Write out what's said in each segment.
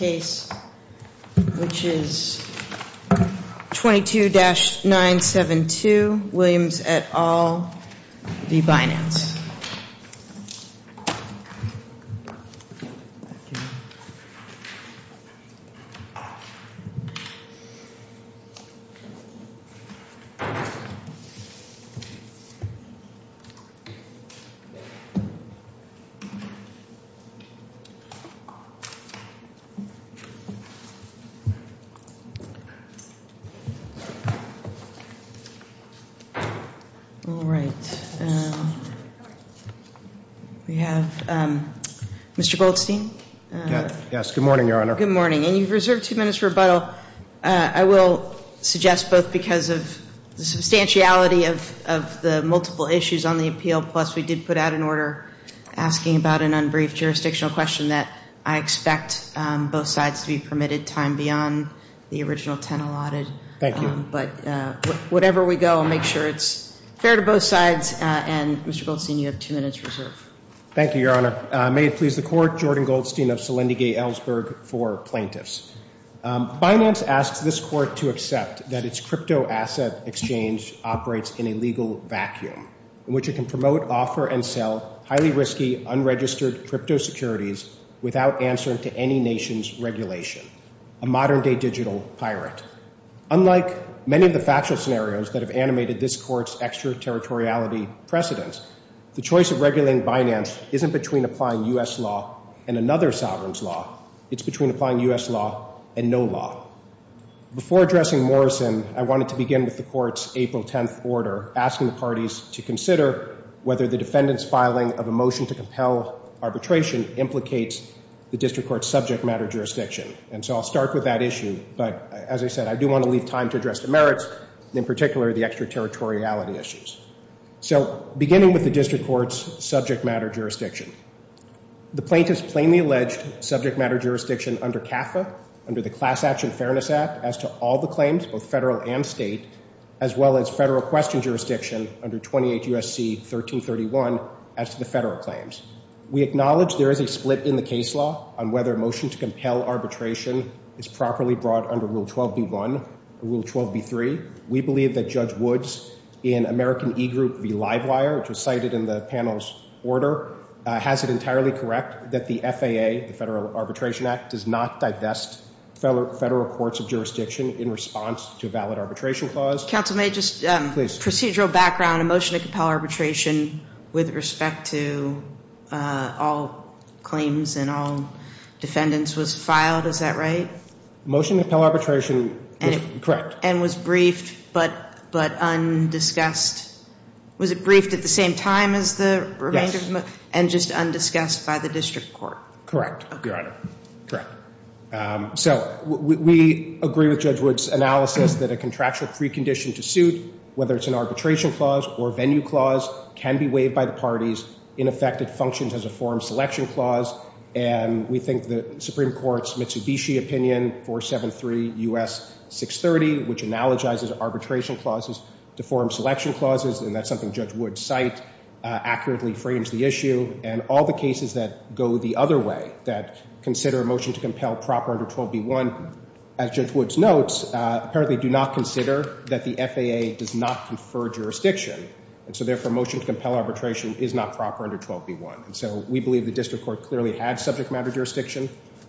case, which is 22-972 Williams et al v. Binance. All right. We have Mr. Goldstein. Yes. Good morning, Your Honor. Good morning. And you've reserved two minutes for rebuttal. I will suggest both because of the substantiality of the multiple issues on the appeal, plus we did put out an order asking about an unbriefed jurisdictional question that I expect both sides to be permitted time beyond the original 10 allotted. Thank you. But whatever we go, I'll make sure it's fair to both sides. And, Mr. Goldstein, you have two minutes reserved. Thank you, Your Honor. May it please the Court, Jordan Goldstein of Selendigay Ellsberg for plaintiffs. Binance asks this Court to accept that its cryptoasset exchange operates in a legal vacuum in which it can be used to buy and sell securities without answering to any nation's regulation, a modern-day digital pirate. Unlike many of the factual scenarios that have animated this Court's extraterritoriality precedence, the choice of regulating Binance isn't between applying U.S. law and another sovereign's law. It's between applying U.S. law and no law. Before addressing Morrison, I wanted to begin with the Court's April 10th order asking the parties to consider whether the defendant's filing of a motion to compel arbitration implicates a breach of the District Court's subject matter jurisdiction. And so I'll start with that issue. But, as I said, I do want to leave time to address the merits, in particular the extraterritoriality issues. So, beginning with the District Court's subject matter jurisdiction, the plaintiff's plainly alleged subject matter jurisdiction under CAFA, under the Class Action Fairness Act, as to all the claims, both federal and state, as well as federal question jurisdiction under 28 U.S.C. 1331, as to the federal claims. We acknowledge there is a split between the plaintiff and the defendant in the case law on whether a motion to compel arbitration is properly brought under Rule 12.B.1 and Rule 12.B.3. We believe that Judge Woods in American E-Group v. Livewire, which was cited in the panel's order, has it entirely correct that the FAA, the Federal Arbitration Act, does not divest federal courts of jurisdiction in response to a valid arbitration clause? Counsel, may I just, procedural background, a motion to compel arbitration with respect to all claims under 28 U.S.C. 1331? And all defendants was filed, is that right? Motion to compel arbitration, correct. And was briefed, but undiscussed. Was it briefed at the same time as the remainder? Yes. And just undiscussed by the District Court? Correct, Your Honor. Correct. So, we agree with Judge Woods' analysis that a contractual precondition to suit, whether it's an arbitration clause or venue clause, can be waived by the District Court. And we think that the Supreme Court's Mitsubishi opinion, 473 U.S. 630, which analogizes arbitration clauses to forum selection clauses, and that's something Judge Woods' cite, accurately frames the issue. And all the cases that go the other way, that consider a motion to compel proper under 12.B.1, as Judge Woods notes, apparently do not consider that the FAA does not confer jurisdiction. And so, therefore, a motion to compel arbitration is not proper under 12.B.1. And so, we believe the District Court clearly had subject matter jurisdiction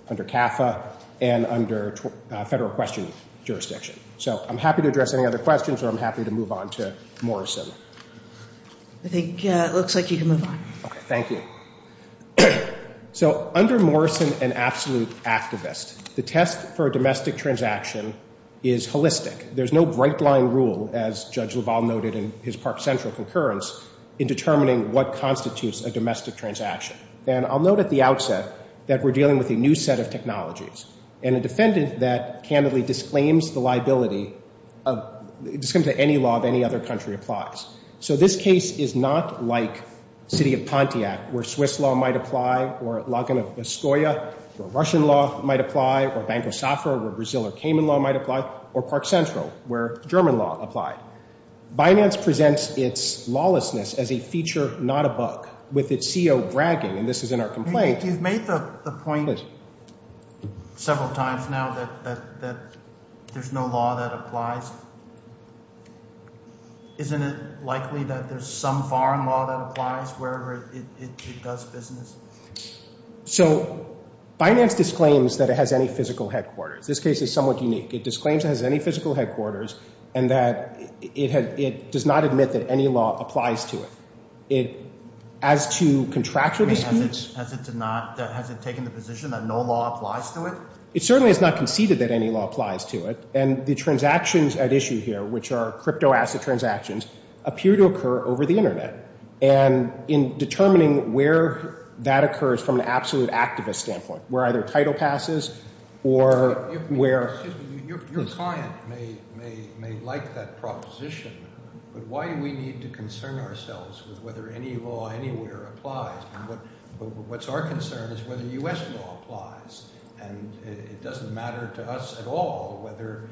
under CAFA and under federal question jurisdiction. So, I'm happy to address any other questions, or I'm happy to move on to Morrison. I think it looks like you can move on. Okay, thank you. So, under Morrison and Absolute Activist, the test for a domestic transaction is holistic. There's no bright line rule, as Judge LaValle noted in his testimony, that states that a domestic transaction is not a domestic transaction. And I'll note at the outset that we're dealing with a new set of technologies. And a defendant that candidly disclaims the liability, disclaims that any law of any other country applies. So, this case is not like City of Pontiac, where Swiss law might apply, or Laguna Biscoia, where Russian law might apply, or Banco Safra, where Brazil or Cayman law might apply, or Park Central, where German law applied. Binance presents its case with a CEO bragging, and this is in our complaint. You've made the point several times now that there's no law that applies. Isn't it likely that there's some foreign law that applies wherever it does business? So, Binance disclaims that it has any physical headquarters. This case is somewhat unique. It disclaims it has any physical headquarters, and that it does not admit that any law applies to it. As to contractual disputes? Has it taken the position that no law applies to it? It certainly has not conceded that any law applies to it. And the transactions at issue here, which are crypto asset transactions, appear to occur over the Internet. And in determining where that occurs from an absolute activist standpoint, where either title passes or where... Excuse me, your client may like that proposition, but where does it come from? Why do we need to concern ourselves with whether any law anywhere applies? What's our concern is whether U.S. law applies. And it doesn't matter to us at all whether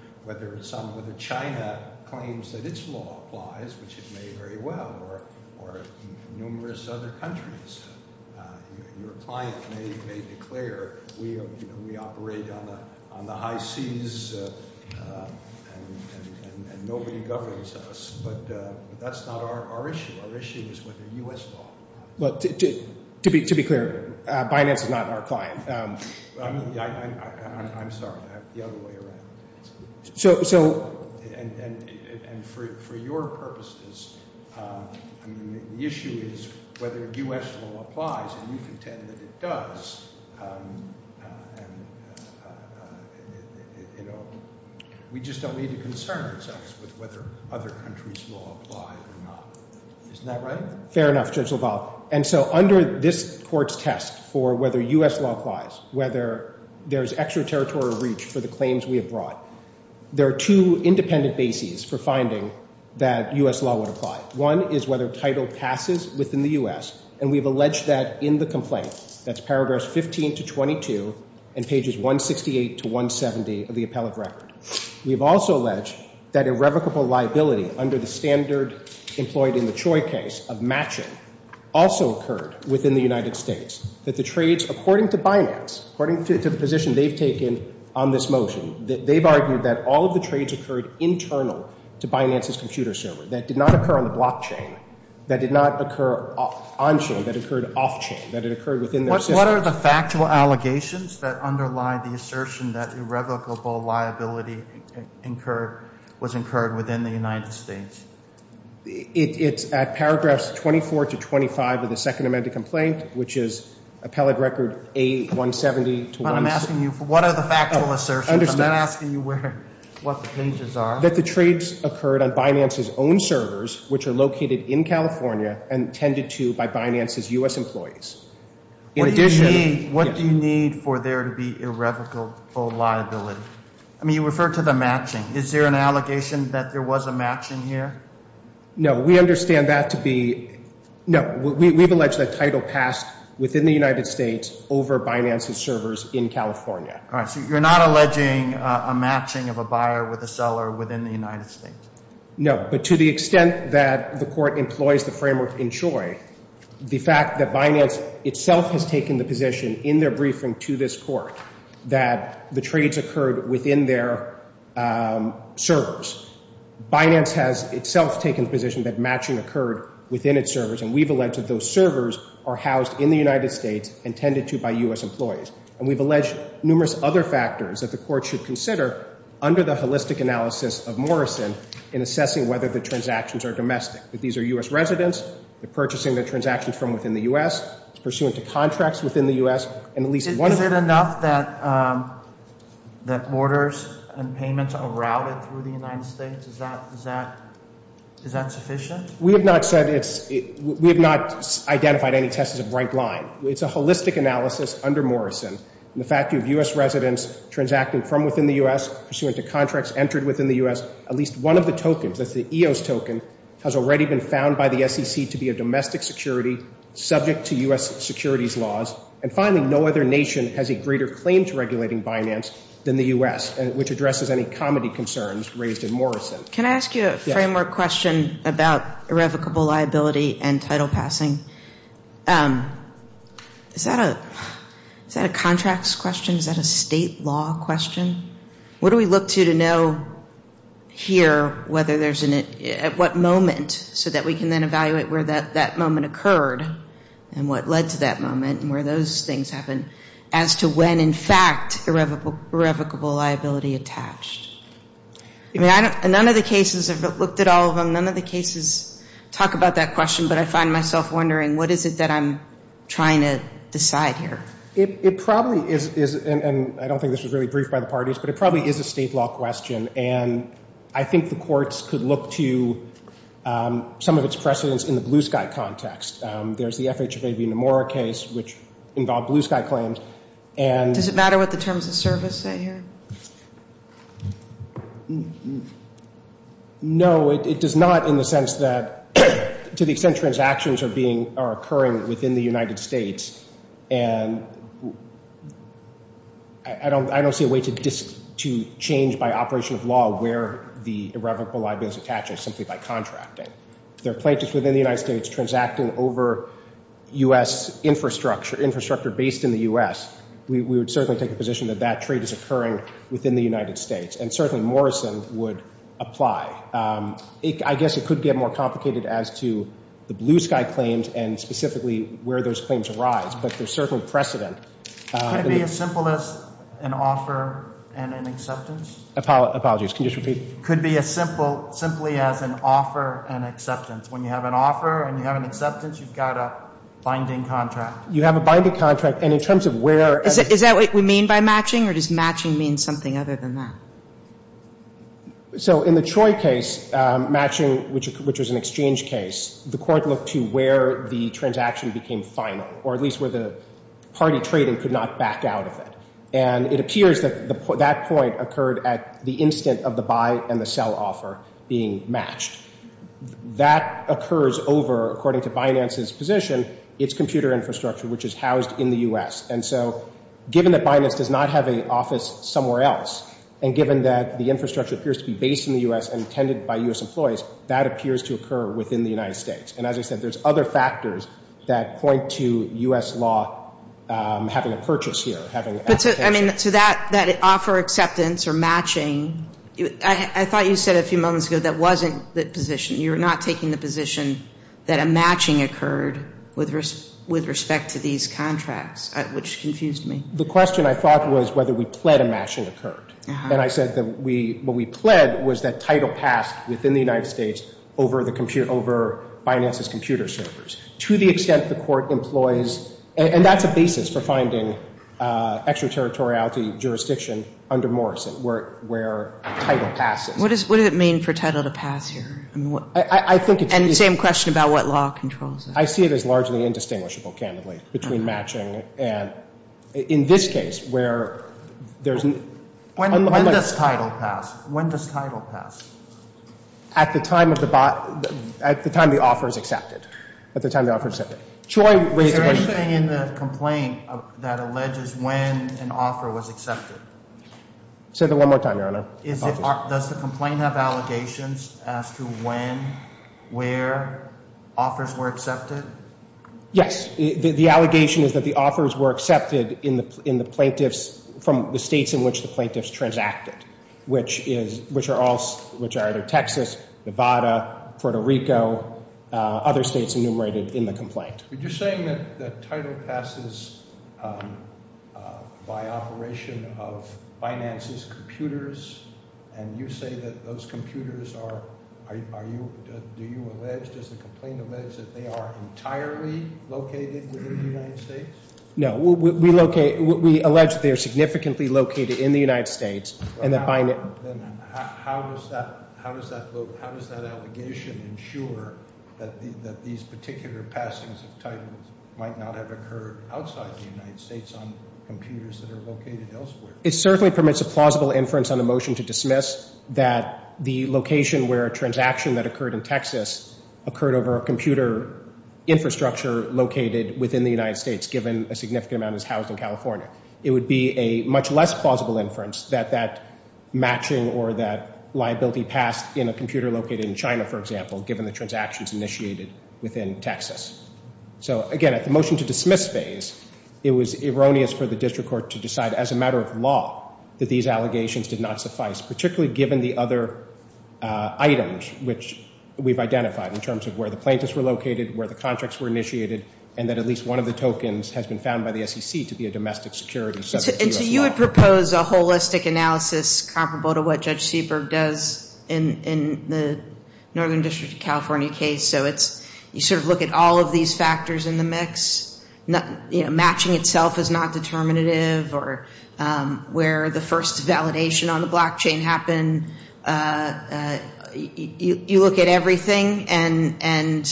China claims that its law applies, which it may very well, or numerous other countries. Your client may declare, we operate on the high seas, and nobody governs us. But, you know, that's not the case. That's not our issue. Our issue is whether U.S. law applies. To be clear, Binance is not our client. I'm sorry, I have the other way around. And for your purposes, the issue is whether U.S. law applies, and you contend that it does. We just don't need to know whether U.S. law applies or not. Isn't that right? Fair enough, Judge LaValle. And so under this court's test for whether U.S. law applies, whether there's extraterritorial reach for the claims we have brought, there are two independent bases for finding that U.S. law would apply. One is whether title passes within the U.S., and we've alleged that in the complaint. That's paragraphs 15 to 22 and pages 168 to 170 of the appellate record. We've also alleged that irrevocable liability under the standard of matching, which occurred, employed in the Choi case of matching, also occurred within the United States. That the trades, according to Binance, according to the position they've taken on this motion, they've argued that all of the trades occurred internal to Binance's computer server. That did not occur on the blockchain. That did not occur on-chain. That occurred off-chain. That it occurred within their systems. What are the factual allegations that underlie the assertion that irrevocable liability incurred, was it? It's at paragraphs 24 to 25 of the second amended complaint, which is appellate record A170 to 170. But I'm asking you, what are the factual assertions? I'm not asking you what the pages are. That the trades occurred on Binance's own servers, which are located in California and tended to by Binance's U.S. employees. In addition... What do you need for there to be irrevocable liability? I mean, you referred to the matching. Is there an allegation that there was a matching here? No. We understand that to be... No. We've alleged that title passed within the United States over Binance's servers in California. All right. So you're not alleging a matching of a buyer with a seller within the United States? No. But to the extent that the court employs the framework in CHOI, the fact that Binance itself has taken the position in their briefing to this court, that the trades occurred within their servers. Binance has itself taken the position that the trades occurred within its servers. And we've alleged that those servers are housed in the United States and tended to by U.S. employees. And we've alleged numerous other factors that the court should consider under the holistic analysis of Morrison in assessing whether the transactions are domestic. That these are U.S. residents, they're purchasing the transactions from within the U.S., pursuant to contracts within the U.S., and at least one... Is it enough that borders and payments are routed through the United States? Is that sufficient? We have not said it's... We have not identified any test as a bright line. It's a holistic analysis under Morrison. And the fact that you have U.S. residents transacting from within the U.S., pursuant to contracts entered within the U.S., at least one of the tokens, that's the EOS token, has already been found by the SEC to be a domestic security subject to U.S. securities laws. And finally, no other nation has a greater claim to regulating Binance than the U.S., which addresses any comity concerns raised in Morrison. Can I ask you a framework question about irrevocable liability and title passing? Is that a... Is that a contracts question? Is that a state law question? What do we look to to know here whether there's an... At what moment so that we can then evaluate where that moment occurred and what led to that moment and where those things happened as to when, in fact, irrevocable liability attached? I mean, I don't... None of the cases, I've looked at all of them, none of the cases talk about that question, but I find myself wondering, what is it that I'm trying to decide here? It probably is... And I don't think this was really briefed by the parties, but it probably is a state law question. And I think the courts could look to some of its precedents in the Blue Sky context. There's the FH of AB Nomura case, which involved Blue Sky claims, and... Does it matter what the terms of service say here? No, it does not in the sense that, to the extent transactions are occurring within the United States, and I don't see a way to change by operation of law where the irrevocable liability is attached simply by contracting. There are I mean, if we were to look at a trade structure based in the U.S., we would certainly take a position that that trade is occurring within the United States, and certainly Morrison would apply. I guess it could get more complicated as to the Blue Sky claims and specifically where those claims arise, but there's certainly precedent. Could it be as simple as an offer and an acceptance? Apologies, can you just repeat? It's a contract, and in terms of where... Is that what we mean by matching, or does matching mean something other than that? So in the Troy case, matching, which was an exchange case, the court looked to where the transaction became final, or at least where the party trading could not back out of it. And it appears that that point occurred at the instant of the buy and the sell offer being matched. That occurs over, according to Binance's position, its computer infrastructure, which is housed in the U.S. And so given that Binance does not have an office somewhere else, and given that the infrastructure appears to be based in the U.S. and attended by U.S. employees, that appears to occur within the United States. And as I said, there's other factors that point to U.S. law having a purchase here, having an application. But to that offer acceptance or matching, I thought you said a few moments ago that wasn't the position. You're not taking the facts, which confused me. The question, I thought, was whether we pled a matching occurred. And I said that what we pled was that title passed within the United States over Binance's computer servers, to the extent the court employs... And that's a basis for finding extraterritoriality jurisdiction under Morrison, where title passes. What does it mean for title to pass here? And the same question about what law controls it? I see it as largely indistinguishable, candidly, between matching and... In this case, where there's... When does title pass? At the time the offer is accepted. Is there anything in the complaint that alleges when an offer was accepted? Say that one more time, Your Honor. Does the complaint have allegations as to when, where offers were accepted? Yes. The allegation is that the offers were accepted in the plaintiffs from the states in which the plaintiffs transacted, which are either Texas, Nevada, Puerto Rico, other states enumerated in the complaint. But you're saying that title passes by operation of Binance's computers? And you say that those computers are... Are you... Do you allege... Does the complaint allege that they are entirely located within the United States? No. We locate... We allege that they are significantly located in the United States, and that Binance... Then how does that... How does that... How does that allegation ensure that these particular passings of titles might not have occurred outside the United States on computers that are located elsewhere? It certainly permits a plausible inference on a motion to dismiss that the location where a transaction that occurred in Texas occurred over a computer infrastructure located within the United States, given a significant amount is housed in California. It would be a much less plausible inference that that matching or that liability passed in a computer located in China, for example, given the transactions initiated within Texas. So, again, at the motion to dismiss phase, it was erroneous for the district court to decide, as a matter of law, that these allegations did not suffice, particularly given the other items which we've identified in terms of where the plaintiffs were located, where the contracts were initiated, and that at least one of the tokens has been found by the SEC to be a domestic security subject to U.S. law. And so you would propose a holistic analysis comparable to what Judge Seaberg does in the Northern District of California case? So it's... You sort of look at all of these factors in the mix. You know, matching itself is not determinative, or where the first validation on the blockchain happened. You look at everything and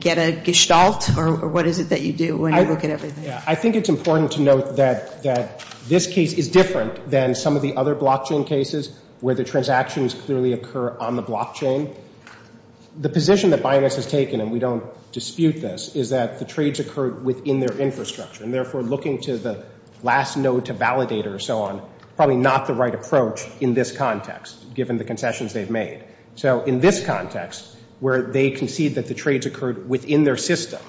get a gestalt, or what is it that you do when you look at everything? I think it's important to note that this case is different than some of the other blockchain cases where the transactions clearly occur on the blockchain. The position that Binance has taken, and we don't dispute this, is that the trades occurred within their infrastructure, and therefore looking to the last node to validate or so on, probably not the right approach in this context, given the concessions they've made. So in this context, where they concede that the trades occurred within their system,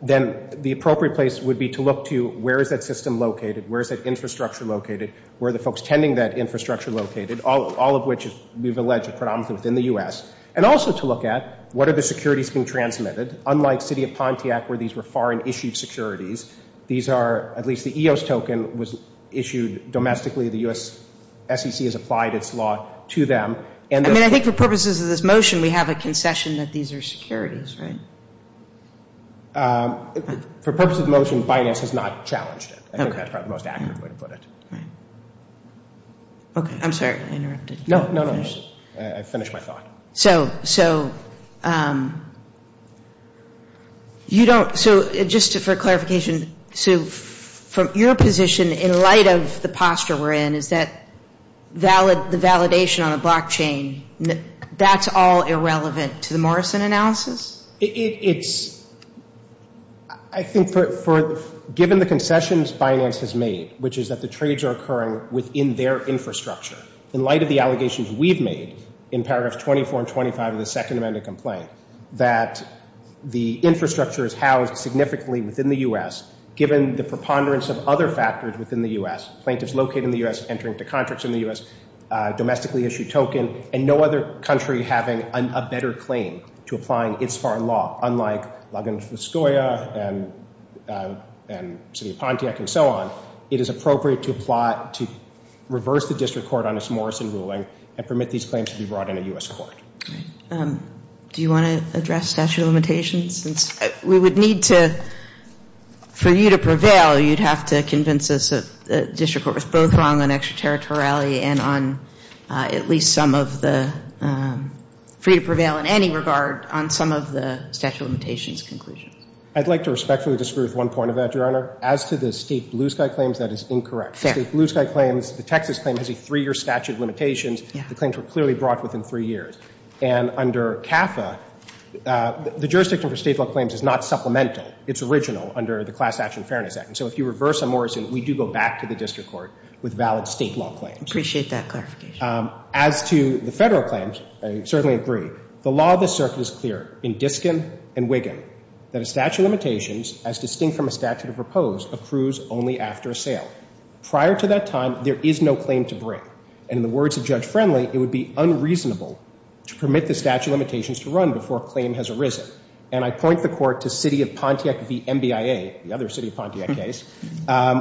then the appropriate place would be to look to where is that system located, where is that infrastructure located, where are the folks tending that infrastructure located, all of which we've alleged are predominantly within the U.S., and also to look at what are the securities being transmitted, unlike City of Pontiac where these were foreign-issued securities. These are, at least the EOS token was issued domestically, the U.S. SEC has applied its law to them, and... I mean, I think for purposes of this motion, we have a concession that these are securities, right? For purposes of the motion, Binance has not challenged it. I think that's probably the most accurate way to put it. Right. Okay, I'm sorry, I interrupted. No, no, no, I finished my thought. So, just for clarification, so from your position, in light of the posture we're in, is that the validation on a blockchain, that's all irrelevant to the Morrison analysis? It's...I think given the concessions Binance has made, which is that the trades occurred within their infrastructure, in light of the allegations we've made in paragraphs 24 and 25 of the Second Amendment complaint, that the infrastructure is housed significantly within the U.S., given the preponderance of other factors within the U.S., plaintiffs located in the U.S., entering into contracts in the U.S., domestically-issued token, and no other country having a better claim to applying its foreign law, unlike Laguna Fuscoia and City of Pontiac and so on, it is appropriate to reverse the district court on its Morrison ruling and permit these claims to be brought in a U.S. court. Do you want to address statute of limitations? We would need to...for you to prevail, you'd have to convince us that the district court was both wrong on extraterritoriality and on at least some of the... for you to prevail in any regard on some of the statute of limitations conclusions. I'd like to respectfully disagree with one point of that, Your Honor. As to the State Bluesky claims, that is incorrect. State Bluesky claims, the Texas claim, has a three-year statute of limitations. The claims were clearly brought within three years. And under CAFA, the jurisdiction for state law claims is not supplemental. It's original under the Class Action Fairness Act. And so if you reverse a Morrison, we do go back to the district court with valid state law claims. Appreciate that clarification. Statute of limitations, as distinct from a statute of repose, accrues only after a sale. Prior to that time, there is no claim to bring. And in the words of Judge Friendly, it would be unreasonable to permit the statute of limitations to run before a claim has arisen. And I point the court to City of Pontiac v. NBIA, the other City of Pontiac case,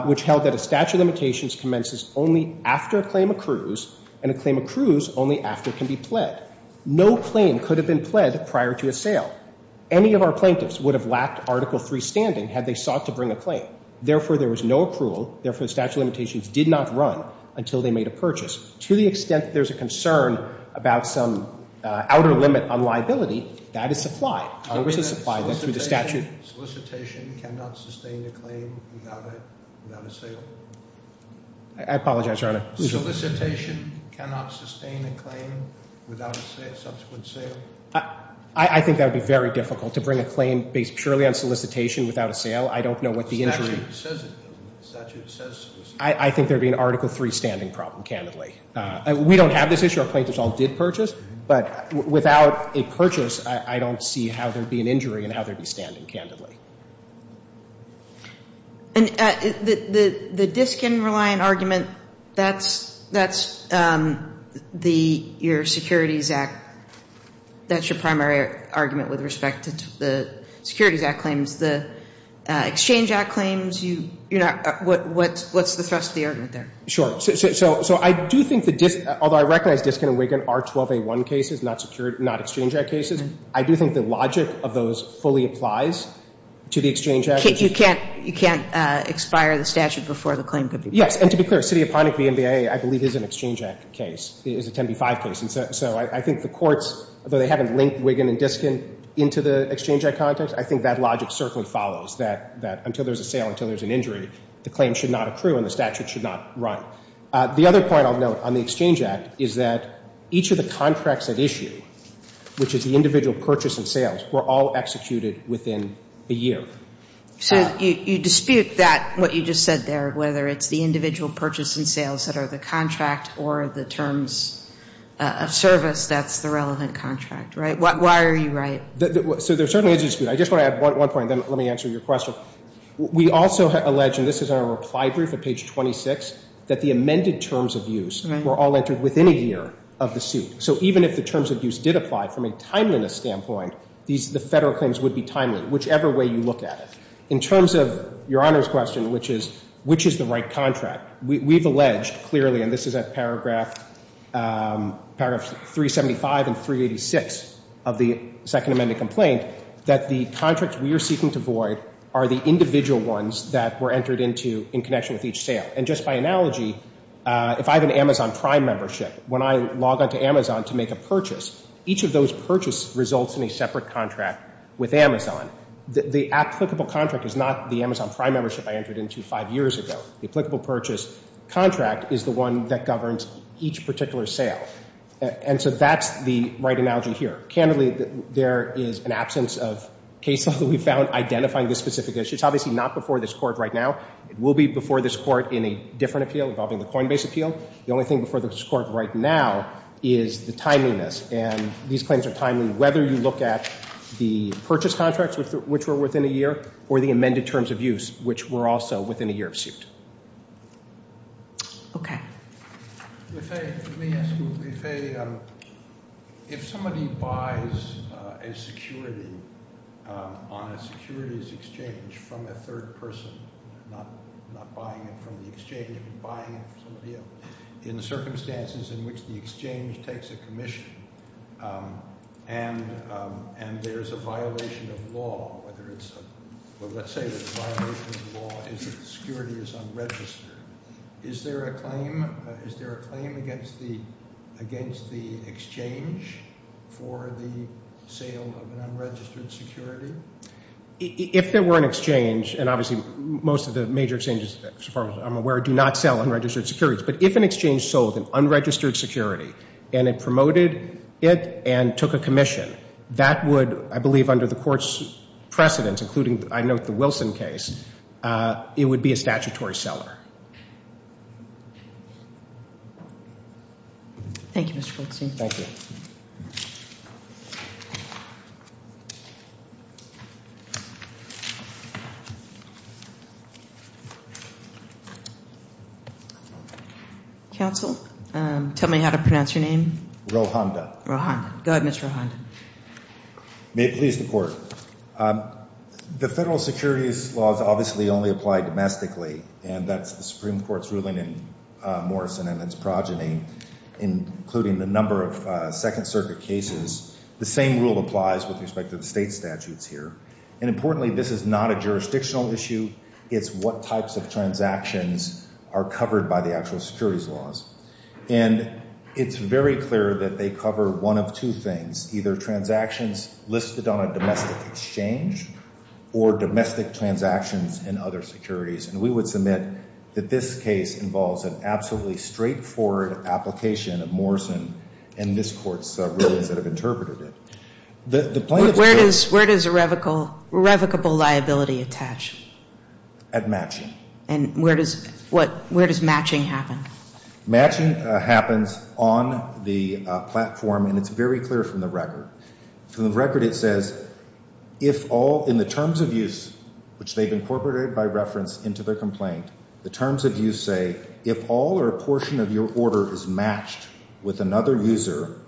which held that a statute of limitations commences only after a claim accrues and a claim accrues only after it can be pled. No claim could have been pled prior to a sale. Any of our plaintiffs would have lacked Article III standing had they sought to bring a claim. Therefore, there was no accrual. Therefore, the statute of limitations did not run until they made a purchase. To the extent that there's a concern about some outer limit on liability, that is supplied. Congress has supplied that through the statute. Solicitation cannot sustain a claim without a sale. I apologize, Your Honor. Solicitation cannot sustain a claim without a subsequent sale. I think that would be very difficult, to bring a claim based purely on solicitation without a sale. I don't know what the injury... I think there would be an Article III standing problem, candidly. We don't have this issue. Our plaintiffs all did purchase, but without a purchase, I don't see how there would be an injury and how there would be standing, candidly. And the disk and reliant argument, that's your Securities Act... That's your primary argument with respect to the Securities Act claims. The Exchange Act claims, you're not... What's the thrust of the argument there? Sure. So I do think that, although I recognize Diskin and Wiggin are 12A1 cases, not secured, not Exchange Act cases, I do think the logic of those fully applies to the Exchange Act. You can't expire the statute before the claim could be... Yes. And to be clear, City of Pontic v. MBIA, I believe, is an Exchange Act case, is a 10B5 case. So I think the courts, though they haven't linked Wiggin and Diskin into the Exchange Act context, I think that logic certainly follows, that until there's a sale, until there's an injury, the claim should not accrue and the statute should not run. The other point I'll note on the Exchange Act is that each of the contracts at issue, which is the individual purchase and sales, were all executed within a year. So you dispute that, what you just said there, whether it's the individual purchase and sales that are the contract or the terms of service, that's the relevant contract, right? Why are you right? So there certainly is a dispute. I just want to add one point, then let me answer your question. We also allege, and this is on our reply brief at page 26, that the amended terms of use were all entered within a year of the suit. So even if the terms of use did apply from a timeliness standpoint, the Federal claims would be timely, whichever way you look at it. In terms of Your Honor's question, which is, which is the right contract? We've alleged clearly, and this is at paragraph 375 and 386 of the Second Amendment complaint, that the contracts we are seeking to void are the individual ones that were entered into in connection with each sale. And just by analogy, if I have an Amazon Prime membership, when I log on to Amazon to make a purchase, each of those purchases results in a separate contract with Amazon. The applicable contract is not the Amazon Prime membership I entered into five years ago. The applicable purchase contract is the one that governs each particular sale. And so that's the right analogy here. Candidly, there is an absence of case law that we found identifying this specific issue. It's obviously not before this Court right now. It will be before this Court in a different appeal involving the Coinbase appeal. The only thing before this Court right now is the timeliness. And these claims are timely, whether you look at the purchase contracts, which were within a year, or the amended terms of use, which were also within a year of suit. Okay. Let me ask you, if somebody buys a security on a securities exchange from a third person, not buying it from the exchange, but buying it from somebody else, in the circumstances in which the exchange takes a commission and there's a violation of law, whether it's a – well, let's say the violation of law is that the security is unregistered. Is there a claim against the exchange for the sale of an unregistered security? If there were an exchange, and obviously most of the major exchanges, as far as I'm aware, do not sell unregistered securities. But if an exchange sold an unregistered security and it promoted it and took a commission, that would, I believe under the Court's precedence, including, I note, the Wilson case, it would be a statutory seller. Thank you, Mr. Goldstein. Thank you. Counsel, tell me how to pronounce your name. Rohanda. Go ahead, Mr. Rohanda. May it please the Court. The federal securities laws obviously only apply domestically and that's the Supreme Court's ruling in Morrison and its progeny including a number of Second Circuit cases. The same rule applies with respect to the state statutes here. And importantly, this is not a jurisdictional issue. It's what types of transactions are covered by the actual securities laws. And it's very clear that they cover one of two things, either transactions listed on a domestic exchange or domestic transactions in other securities. And we would submit that this case involves an absolutely straightforward application of Morrison and this Court's rulings that have interpreted it. Where does irrevocable liability attach? At matching. And where does matching happen? Matching happens on the platform and it's very clear from the record. From the record it says, if all in the terms of use, which they've incorporated by reference into their complaint, the terms of use say, if all or a portion of your order is matched with another user,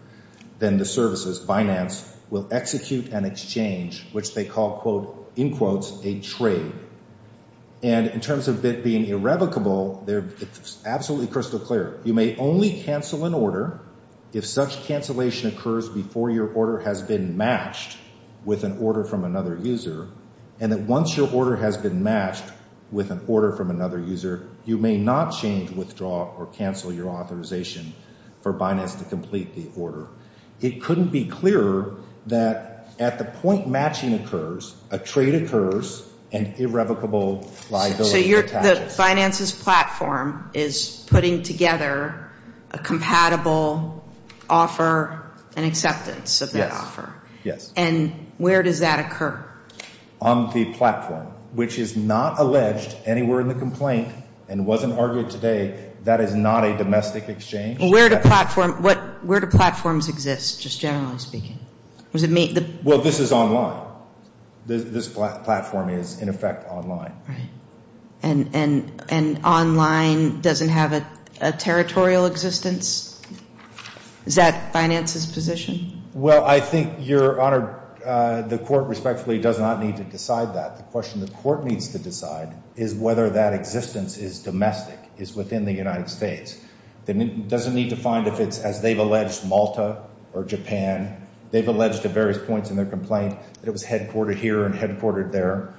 then the services, Binance, will execute an exchange, which they call, in quotes, a trade. And in terms of it being irrevocable, it's absolutely crystal clear. You may only cancel an order if such cancellation occurs before your order has been matched with an order from another user. And that once your order has been matched with an order from another user, you may not change, withdraw, or cancel your authorization for Binance to complete the order. It couldn't be clearer that at the point matching occurs, a trade occurs, and irrevocable liability attaches. So Binance's platform is putting together a compatible offer and acceptance of that offer. Yes, yes. And where does that occur? On the platform, which is not alleged anywhere in the complaint and wasn't argued today. That is not a domestic exchange. Where do platforms exist, just generally speaking? Well, this is online. This platform is, in effect, online. Right. And online doesn't have a territorial existence? Is that Binance's position? Well, I think, Your Honor, the Court respectfully does not need to decide that. The question the Court needs to decide is whether that existence is domestic, is within the United States. It doesn't need to find if it's, as they've alleged, Malta or Japan. They've alleged at various points in their complaint that it was headquartered here and headquartered there.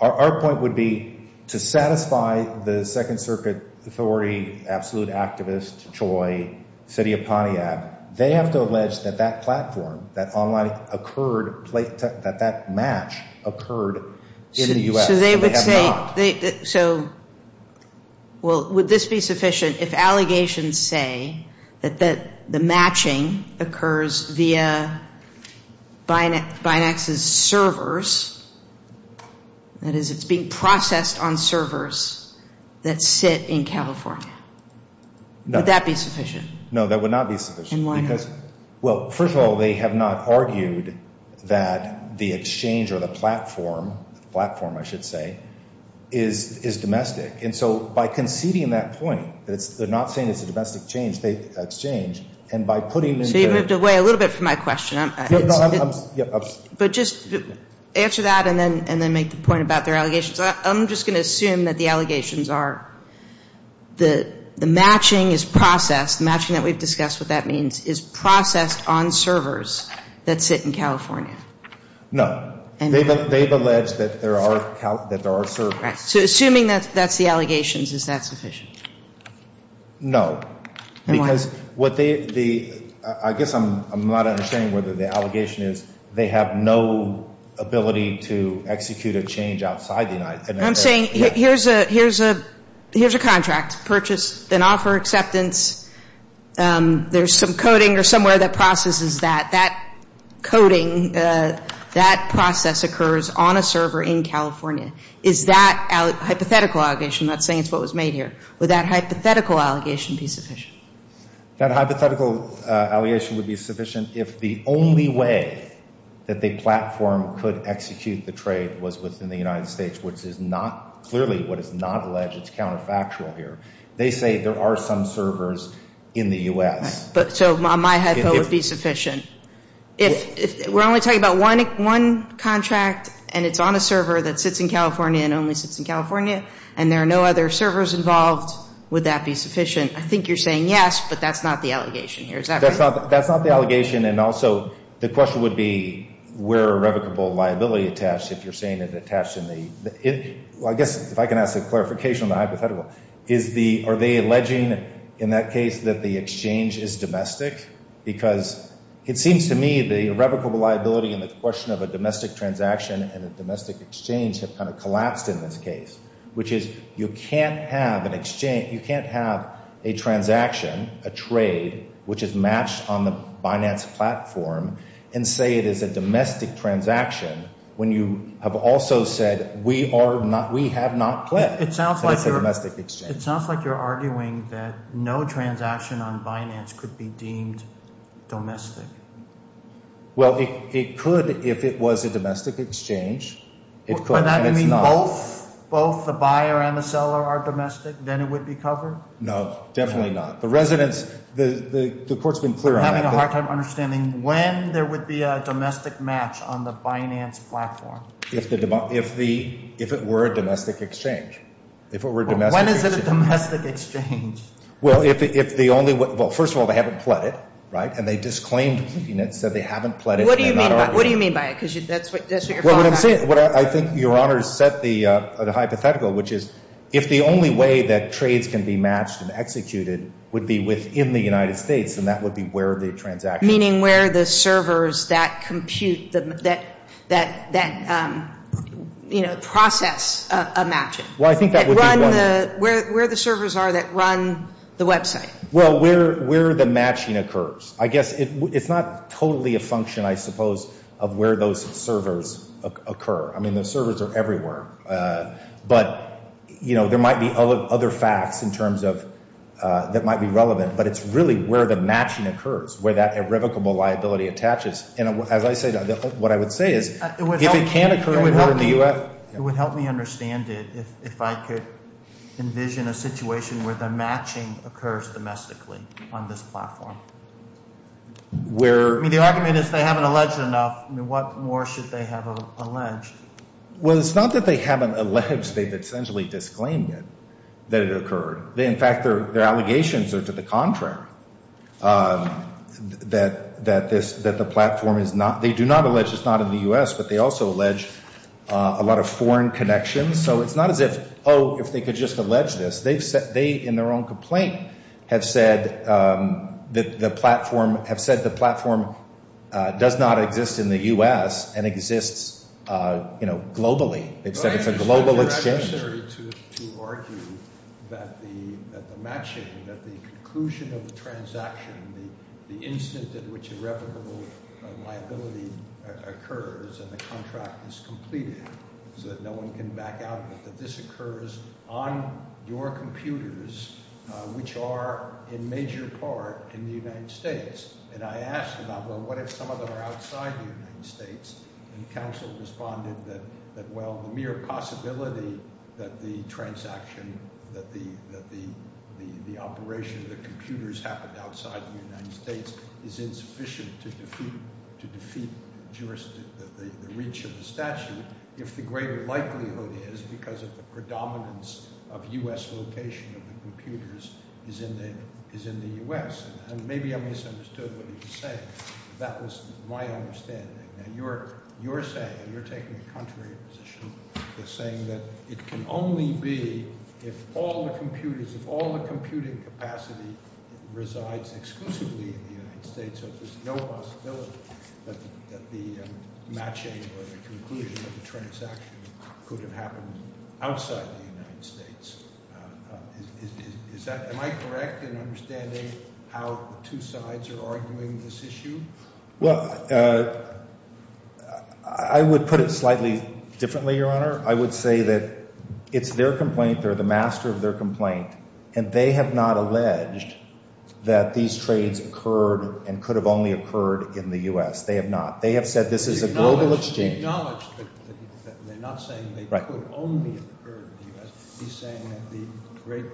Our point would be to satisfy the Second Circuit Authority, Absolute Activist, CHOI, City of Pontiac. They have to allege that that platform, that online occurred, that that match occurred in the U.S. So, would this be sufficient if allegations say that the matching occurs via Binance's servers that is, it's being processed on servers that sit in California? No. Would that be sufficient? No, that would not be sufficient. And why not? Well, first of all, they have not argued that the exchange or the platform, the platform, I should say, is domestic. And so, by conceding that point, they're not saying it's a domestic exchange, and by putting into... So you moved away a little bit from my question. No, no, I'm... But just answer that and then make the point about their allegations. I'm just going to assume that the allegations are that the matching is processed, matching that we've discussed what that means, is processed on servers that sit in California. No. They've alleged that there are servers. Right. So assuming that's the allegations, is that sufficient? No. Because what they... I guess I'm not understanding whether the allegation is they have no ability to execute a change outside the United States. I'm saying here's a... Here's a contract. Purchase and offer acceptance. There's some coding or somewhere that processes that. That coding, that process occurs on a server in California. Is that hypothetical allegation, I'm not saying it's what was made here, would that hypothetical allegation be sufficient? That hypothetical allegation would be sufficient if the only way that they platform could execute the trade was within the United States, which is not, clearly what is not alleged, it's counterfactual here. They say there are some servers in the U.S. So my hypo would be sufficient. If we're only talking about one contract and it's on a server that sits in California and only sits in California and there are no other servers involved, would that be sufficient? I think you're saying yes, but that's not the allegation here. That's not the allegation and also the question would be where are irrevocable liability attached if you're saying it's attached in the... I guess if I can ask a clarification on the hypothetical. Are they alleging in that case that the exchange is domestic? Because it seems to me the irrevocable liability and the question of a domestic transaction and a domestic exchange have kind of collapsed in this case. Which is you can't have an exchange, you can't have a transaction, a trade which is matched on the Binance platform and say it is a domestic transaction when you have also said we have not pledged that it's a domestic exchange. It sounds like you're arguing that no transaction on Binance could be deemed domestic. Well, it could if it was a domestic exchange. By that you mean both the buyer and the seller are domestic, then it would be covered? No, definitely not. The court's been clear on that. I'm having a hard time understanding when there would be a domestic match on the Binance platform. If it were a domestic exchange. If it were a domestic exchange. When is it a domestic exchange? Well, first of all, they haven't pledged and they disclaimed pleading it so they haven't pledged. What do you mean by it? I think Your Honor set the hypothetical which is if the only way that trades can be matched and executed would be within the United States, then that would be where the transaction is. Meaning where the servers that compute that process a matching. Where the servers are that run the website. Where the matching occurs. I guess it's not totally a function I suppose of where those servers occur. The servers are everywhere. There might be other facts in terms of that might be relevant, but it's really where the matching occurs. Where that irrevocable liability attaches. What I would say is if it can occur in the U.S. It would help me understand it if I could envision a situation where the matching occurs domestically on this platform. The argument is if they haven't alleged enough, what more should they have alleged? It's not that they haven't alleged they've essentially disclaimed it. In fact, their allegations are to the contrary. That the platform is not in the U.S., but they also allege a lot of foreign connections so it's not as if they could just allege this. They, in their own complaint have said the platform does not exist in the U.S. and exists globally. It's a global exchange. It's not necessary to argue that the matching, that the conclusion of the transaction, the instant in which irrevocable liability occurs and the contract is completed so that no one can back out that this occurs on your computers which are in major part in the United States. I asked about what if some of them are outside the United States? Council responded that the mere possibility that the transaction that the operation of the computers happened outside the United States is insufficient to defeat the reach of the statute if the greater likelihood is because of the predominance of U.S. location of the computers is in the U.S. Maybe I misunderstood what he was saying. That was my understanding. You're saying and you're taking a contrary position saying that it can only be if all the computers if all the computing capacity resides exclusively in the United States so there's no possibility that the matching or the conclusion of the transaction could have happened outside the United States. Am I correct in understanding how the two sides are arguing this issue? Well I would put it slightly differently, Your Honor. I would say that it's their complaint they're the master of their complaint and they have not alleged that these trades occurred and could have only occurred in the U.S. They have said this is a global exchange. He acknowledged that they're not saying they could only occur in the U.S. He's saying that the great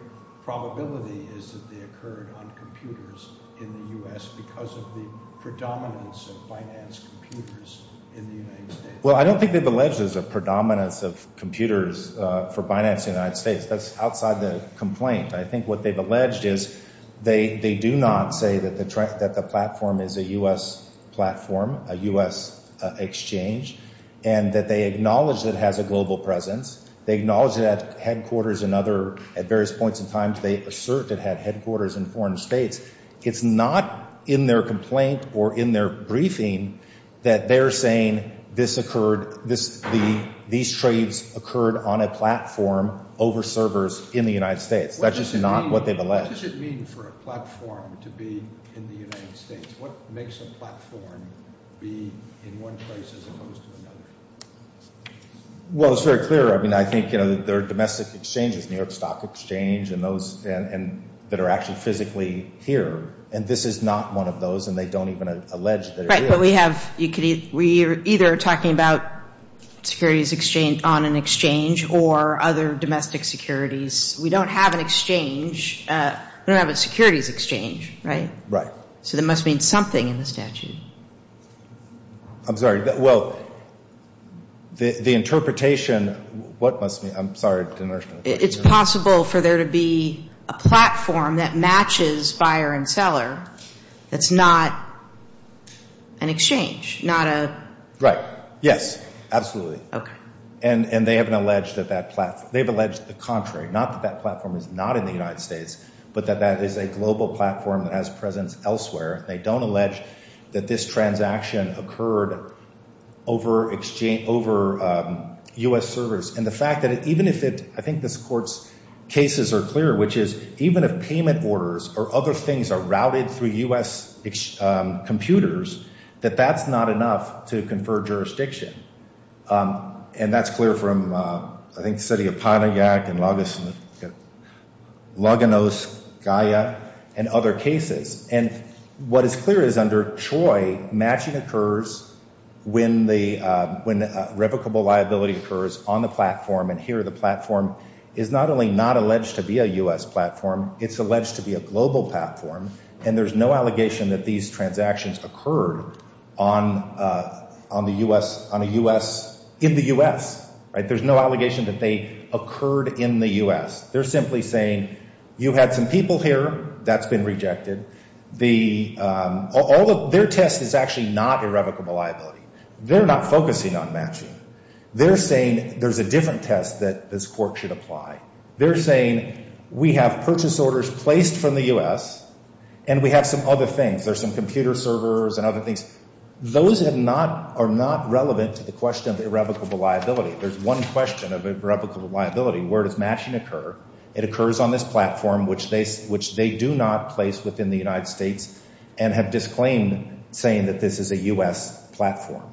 probability is that they occurred on computers in the U.S. because of the predominance of finance computers in the United States. Well I don't think they've alleged there's a predominance of computers for finance in the United States that's outside the complaint I think what they've alleged is they do not say that the platform is a U.S. platform a U.S. exchange and that they acknowledge it has a global presence. They acknowledge that headquarters and other at various points in time they assert it had headquarters in foreign states. It's not in their complaint or in their briefing that they're saying this occurred these trades occurred on a platform over servers in the United States. That's just not what they've alleged. What does it mean for a platform to be in the United States? What makes a platform be in one place as opposed to another? Well it's very clear I mean I think there are domestic exchanges, New York Stock Exchange and those that are actually physically here and this is not one of those and they don't even allege that it is. Right but we have we're either talking about securities exchange on an exchange or other domestic securities we don't have an exchange we don't have a securities exchange right? Right. So there must mean something in the statute. I'm sorry well the interpretation what must be, I'm sorry it's possible for there to be a platform that matches buyer and seller that's not an exchange. Not a Right. Yes. Absolutely. And they haven't alleged that that platform, they've alleged the contrary not that that platform is not in the United States but that that is a global platform that has presence elsewhere and they don't allege that this transaction occurred over exchange, over U.S. servers and the fact that even if it I think this court's cases are clear which is even if payment orders or other things are routed through U.S. computers that that's not enough to confer jurisdiction and that's clear from I think City of Pontiac and Luganos Gaia and other cases and what is clear is under CHOI matching occurs when the, when revocable liability occurs on the platform and here the platform is not only not alleged to be a U.S. platform it's alleged to be a global platform and there's no allegation that these transactions occurred on on the U.S. in the U.S. there's no allegation that they occurred in the U.S. they're simply saying you had some people here that's been rejected their test is actually not irrevocable liability they're not focusing on matching they're saying there's a different test that this court should apply they're saying we have purchase orders placed from the U.S. and we have some other things, there's some computer servers and other things those have not, are not relevant to the question of irrevocable liability there's one question of irrevocable liability, where does matching occur it occurs on this platform which they do not place within the United States and have disclaimed saying that this is a U.S. platform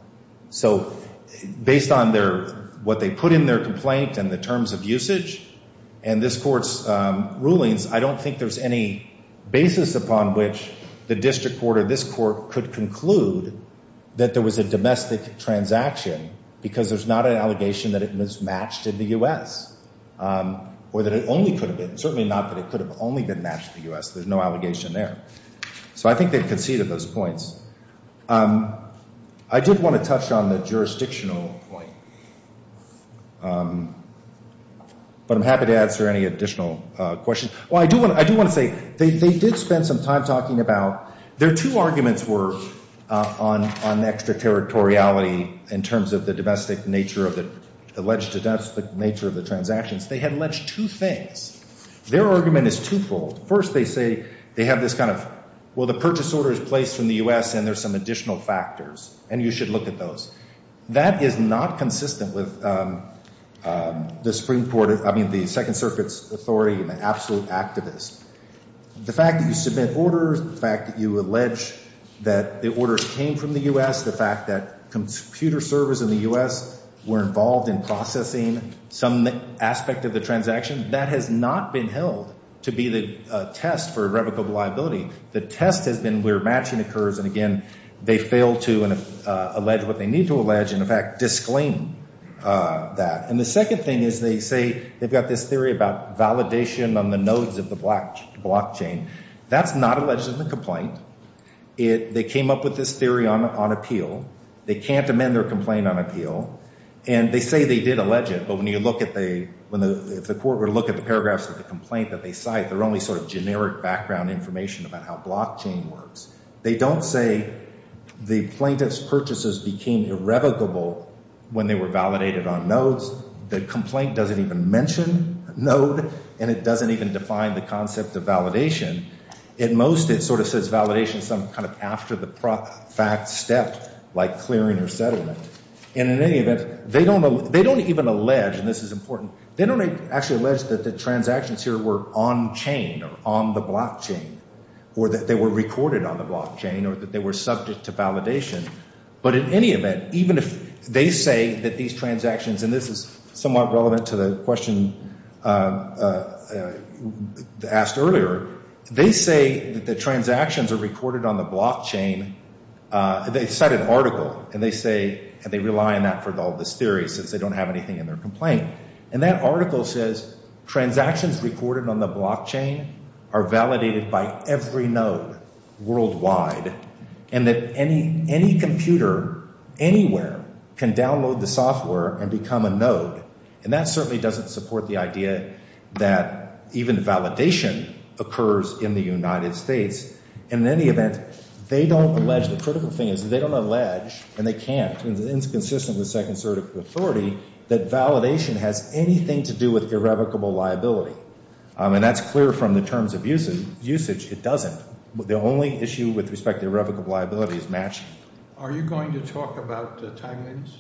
so based on their, what they put in their complaint and the terms of usage and this court's rulings, I don't think there's any basis upon which the district or this court could conclude that there was a domestic transaction because there's not an allegation that it was matched in the U.S. or that it only could have been, certainly not that it could have only been matched in the U.S. there's no allegation there so I think they've conceded those points I did want to touch on the jurisdictional point but I'm happy to answer any additional questions I do want to say, they did spend some time talking about their two arguments were on extraterritoriality in terms of the domestic nature of the alleged domestic nature of the transactions, they had alleged two things their argument is twofold first they say they have this kind of well the purchase order is placed from the U.S. and there's some additional factors and you should look at those that is not consistent with the Supreme Court I mean the Second Circuit's authority the absolute activist the fact that you submit orders the fact that you allege that the orders came from the U.S. the fact that computer servers in the U.S. were involved in processing some aspect of the transaction that has not been held to be the test for irrevocable liability the test has been where matching occurs and again they fail to allege what they need to allege and in fact disclaim that and the second thing is they say they've got this theory about validation on the nodes of the blockchain that's not alleged in the complaint they came up with this theory on appeal they can't amend their complaint on appeal and they say they did allege it but when you look at the paragraphs of the complaint that they cite they're only sort of generic background information about how blockchain works they don't say the plaintiff's purchases became irrevocable when they were validated on nodes the complaint doesn't even mention node and it doesn't even define the concept of validation at most it sort of says validation some kind of after the fact step like clearing or settlement and in any event they don't even allege they don't actually allege that the transactions here were on chain on the blockchain or that they were recorded on the blockchain or that they were subject to validation but in any event even if they say that these transactions and this is somewhat relevant to the question asked earlier they say that the transactions are recorded on the blockchain they cite an article and they say and they rely on that for all this theory since they don't have anything in their complaint and that article says transactions recorded on the blockchain are validated by every node worldwide and that any computer anywhere can download the software and become a node and that certainly doesn't support the idea that even validation occurs in the United States and in any event they don't allege, the critical thing is they don't allege and they can't and it's inconsistent with second certical authority that validation has anything to do with irrevocable liability and that's clear from the terms of usage, it doesn't the only issue with respect to irrevocable liability is matching Are you going to talk about timeliness?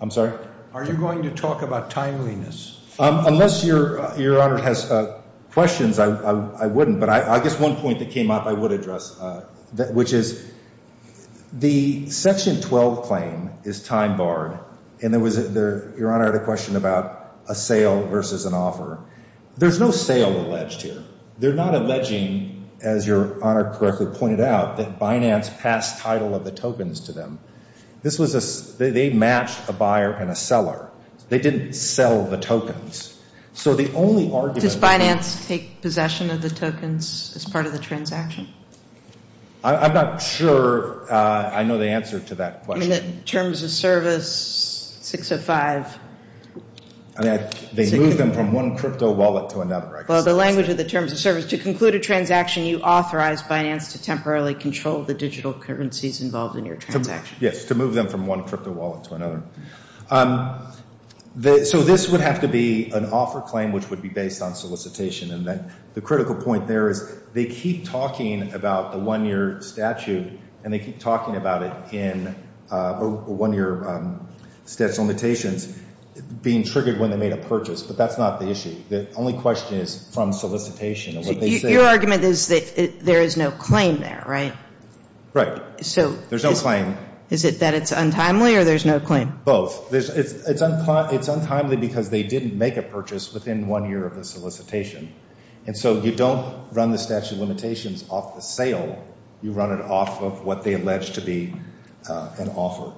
I'm sorry? Are you going to talk about timeliness? Unless your honor has questions I wouldn't but I guess one point that came up I would address which is the section 12 claim is time barred and your honor had a question about a sale versus an offer there's no sale alleged here they're not alleging as your honor pointed out that Binance passed title of the tokens to them this was a, they matched a buyer and a seller they didn't sell the tokens so the only argument Does Binance take possession of the tokens as part of the transaction? I'm not sure I know the answer to that question I mean the terms of service 605 I mean they moved them from one crypto wallet to another right? Well the language of the terms of service to conclude a transaction you authorize Binance to temporarily control the digital currencies involved in your transaction Yes to move them from one crypto wallet to another So this would have to be an offer claim which would be based on solicitation the critical point there is they keep talking about the one year statute and they keep talking about it in one year statute limitations being triggered when they made a purchase but that's not the issue the only question is from solicitation Your argument is that there is no claim there right? Right, there's no claim Is it that it's untimely or there's no claim? Both, it's untimely because they didn't make a purchase within one year of the solicitation and so you don't run the statute limitations off the sale you run it off of what they allege to be an offer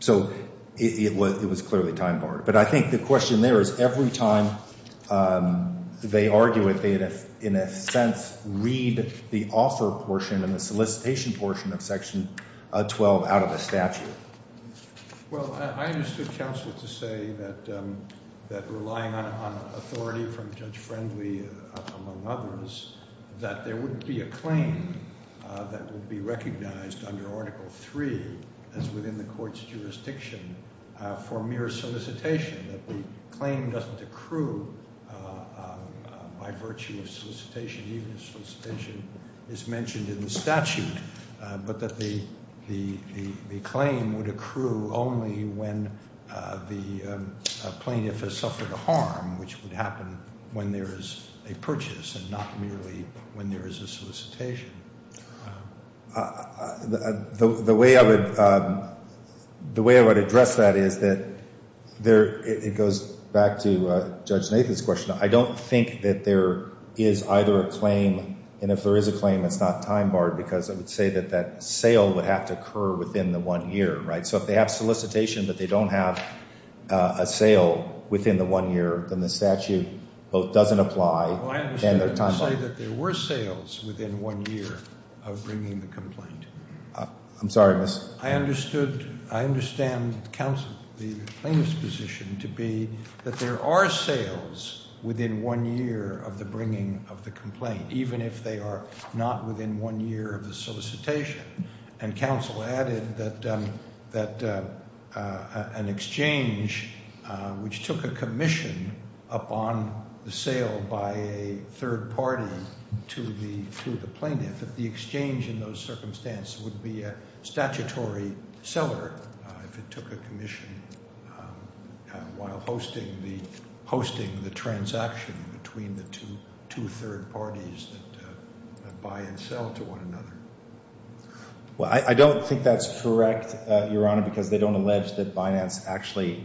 so it was clearly time barred but I think the question there is every time they argue it they in a sense read the offer portion and the solicitation portion of section 12 out of the statute Well I understood counsel to say that relying on authority from Judge Friendly among others that there wouldn't be a claim that would be recognized under article 3 as within the court's jurisdiction for mere solicitation that the claim doesn't accrue by virtue of solicitation even if solicitation is mentioned in the statute but that the claim would accrue only when the plaintiff has suffered a harm which would happen when there is a purchase and not merely when there is a solicitation The way I would address that is that it goes back to Judge Nathan's question I don't think that there is either a claim and if there is a claim it's not time barred because I would say that sale would have to occur within the one year so if they have solicitation but they don't have a sale within the one year then the statute both doesn't apply and they're time barred I would say that there were sales within one year of bringing the complaint I'm sorry miss I understand the plaintiff's position to be that there are sales within one year of the bringing of the complaint even if they are not within one year of the solicitation and counsel added that an exchange which took a commission upon the sale by a third party to the plaintiff that the exchange in those circumstances would be a statutory seller if it took a commission while hosting the transaction between the two third parties that buy and sell to one another I don't think that's correct your honor because they don't allege that Binance actually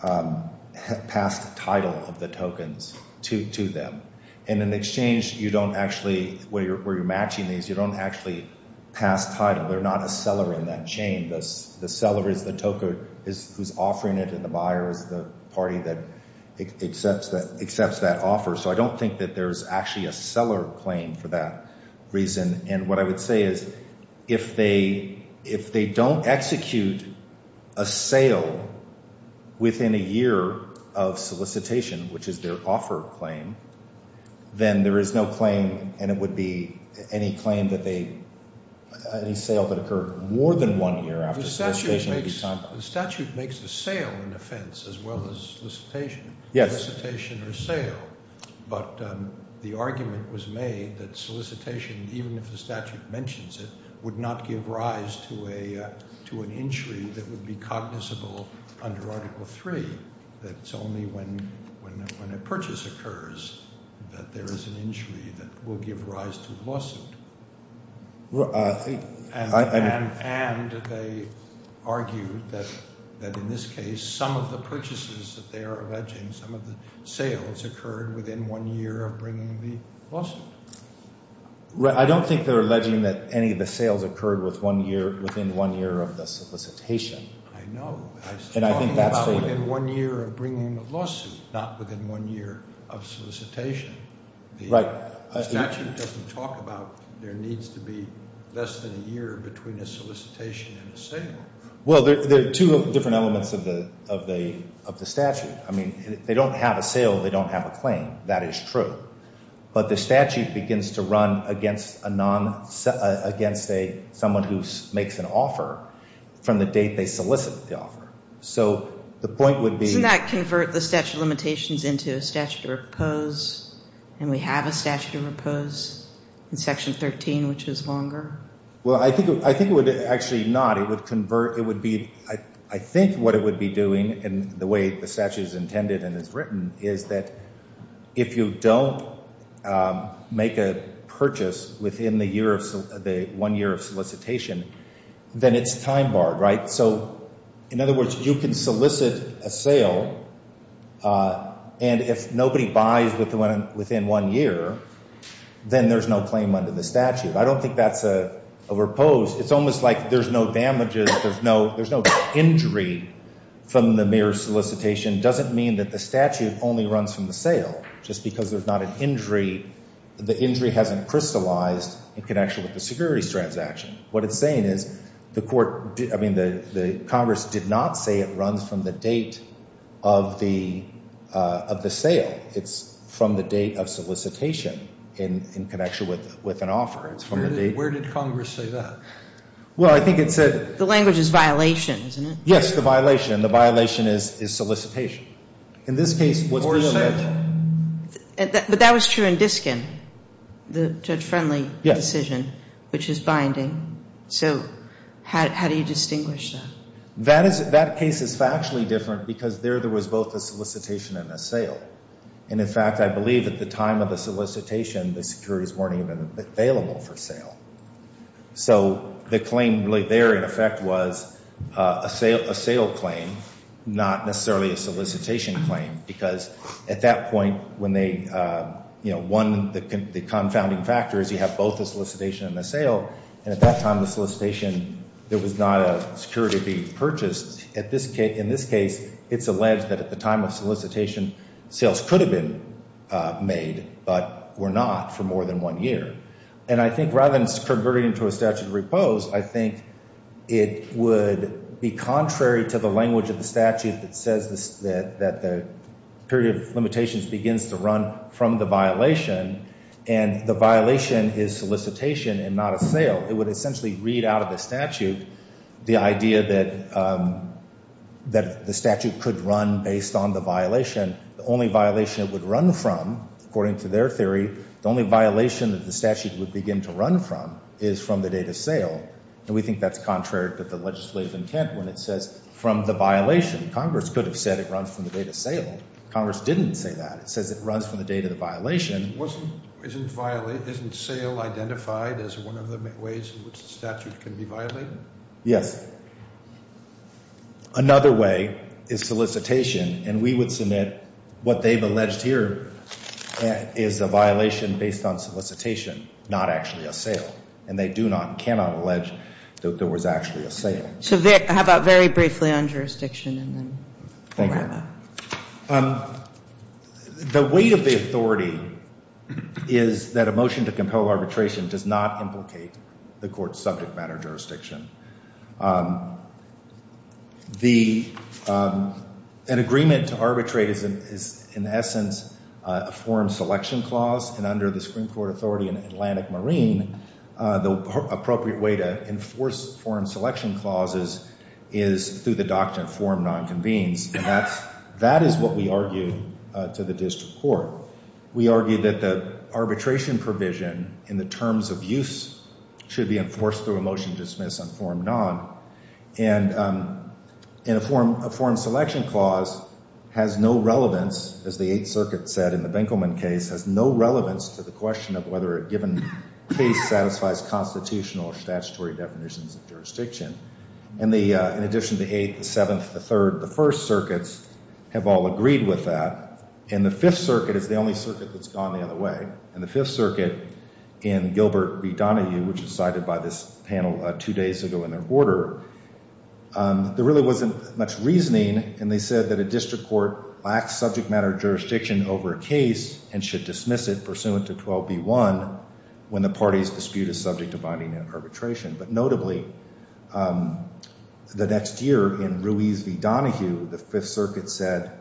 passed the title of the tokens to them and in exchange you don't actually where you're matching these you don't actually pass title they're not a seller in that chain the seller is the token who's offering it and the buyer is the party that accepts that offer so I don't think that there's actually a seller claim for that reason and what I would say is if they don't execute a sale within a year of solicitation which is their offer claim then there is no claim and it would be any claim that they any sale that occurred more than one year after solicitation the statute makes the sale an offense as well as solicitation solicitation or sale but the argument was made that solicitation even if the statute mentions it would not give rise to an injury that would be cognizable under article 3 that's only when a purchase occurs that there is an injury that will give rise to a lawsuit and they argued that in this case some of the purchases that they are alleging some of the sales occurred within one year of bringing the lawsuit I don't think they're alleging that any of the sales occurred within one year of the solicitation I know and I think that's stated within one year of bringing the lawsuit not within one year of solicitation the statute doesn't talk about there needs to be less than a year between a solicitation and a sale well there are two different elements of the statute they don't have a sale they don't have a claim that is true but the statute begins to run against someone who makes an offer from the date they solicit the offer so the point would be doesn't that convert the statute of limitations into a statute of repose and we have a statute of repose in section 13 which is longer well I think it would actually not it would convert I think what it would be doing in the way the statute is intended and is written is that if you don't make a purchase within the one year of solicitation then it's time barred so in other words you can solicit a sale and if nobody buys within one year then there's no claim under the statute I don't think that's a repose it's almost like there's no damages there's no injury from the mere solicitation doesn't mean that the statute only runs from the sale just because there's not an injury the injury hasn't crystallized in connection with the securities transaction what it's saying is the court I mean the congress did not say it runs from the date of the sale it's from the date of solicitation in connection with an offer where did congress say that well I think it said the language is violation isn't it yes the violation is solicitation in this case but that was true in Diskin the judge friendly decision which is binding so how do you distinguish that that case is factually different because there was both a solicitation and a sale and in fact I believe at the time of the solicitation the securities weren't even available for sale so the claim there in effect was a sale claim not necessarily a solicitation claim because at that point when they the confounding factor is you have both a solicitation and a sale and at that time the solicitation there was not a security being purchased in this case it's alleged that at the time of solicitation sales could have been made but were not for more than one year and I think rather than converting it to a statute of repose I think it would be contrary to the language of the statute that says that the period of limitations begins to run from the violation and the violation is solicitation and not a sale it would essentially read out of the statute the idea that the statute could run based on the violation the only violation it would run from according to their theory the only violation the statute would begin to run from is from the date of sale and we think that's contrary to the legislative intent when it says from the violation Congress could have said it runs from the date of sale Congress didn't say that it says it runs from the date of the violation Isn't sale identified as one of the ways in which the statute can be violated? Yes Another way is solicitation and we would submit what they've alleged here is a violation based on solicitation not actually a sale and they do not and cannot allege that there was actually a sale How about very briefly on jurisdiction Thank you The weight of the authority is that a motion to compel arbitration does not implicate the court's subject matter jurisdiction An agreement to arbitrate is in essence a form selection clause and under the Supreme Court authority in Atlantic Marine the appropriate way to enforce foreign selection clauses is through the doctrine of form non-convenes and that is what we argue to the district court We argue that the arbitration provision in the terms of use should be enforced through a motion to dismiss on form non and a foreign selection clause has no relevance as the 8th circuit said in the Benkelman case has no relevance to the question of whether a given case satisfies constitutional or statutory definitions of jurisdiction In addition to the 8th, the 7th, the 3rd, the 1st circuits have all agreed with that and the 5th circuit is the only circuit that's gone the other way and the 5th circuit in Gilbert v. Donahue which is cited by this panel two days ago in their order there really wasn't much reasoning and they said that a district court lacks subject matter jurisdiction over a case and should dismiss it pursuant to 12b.1 when the party's dispute is subject to binding arbitration but notably the next year in Ruiz v. Donahue the 5th circuit said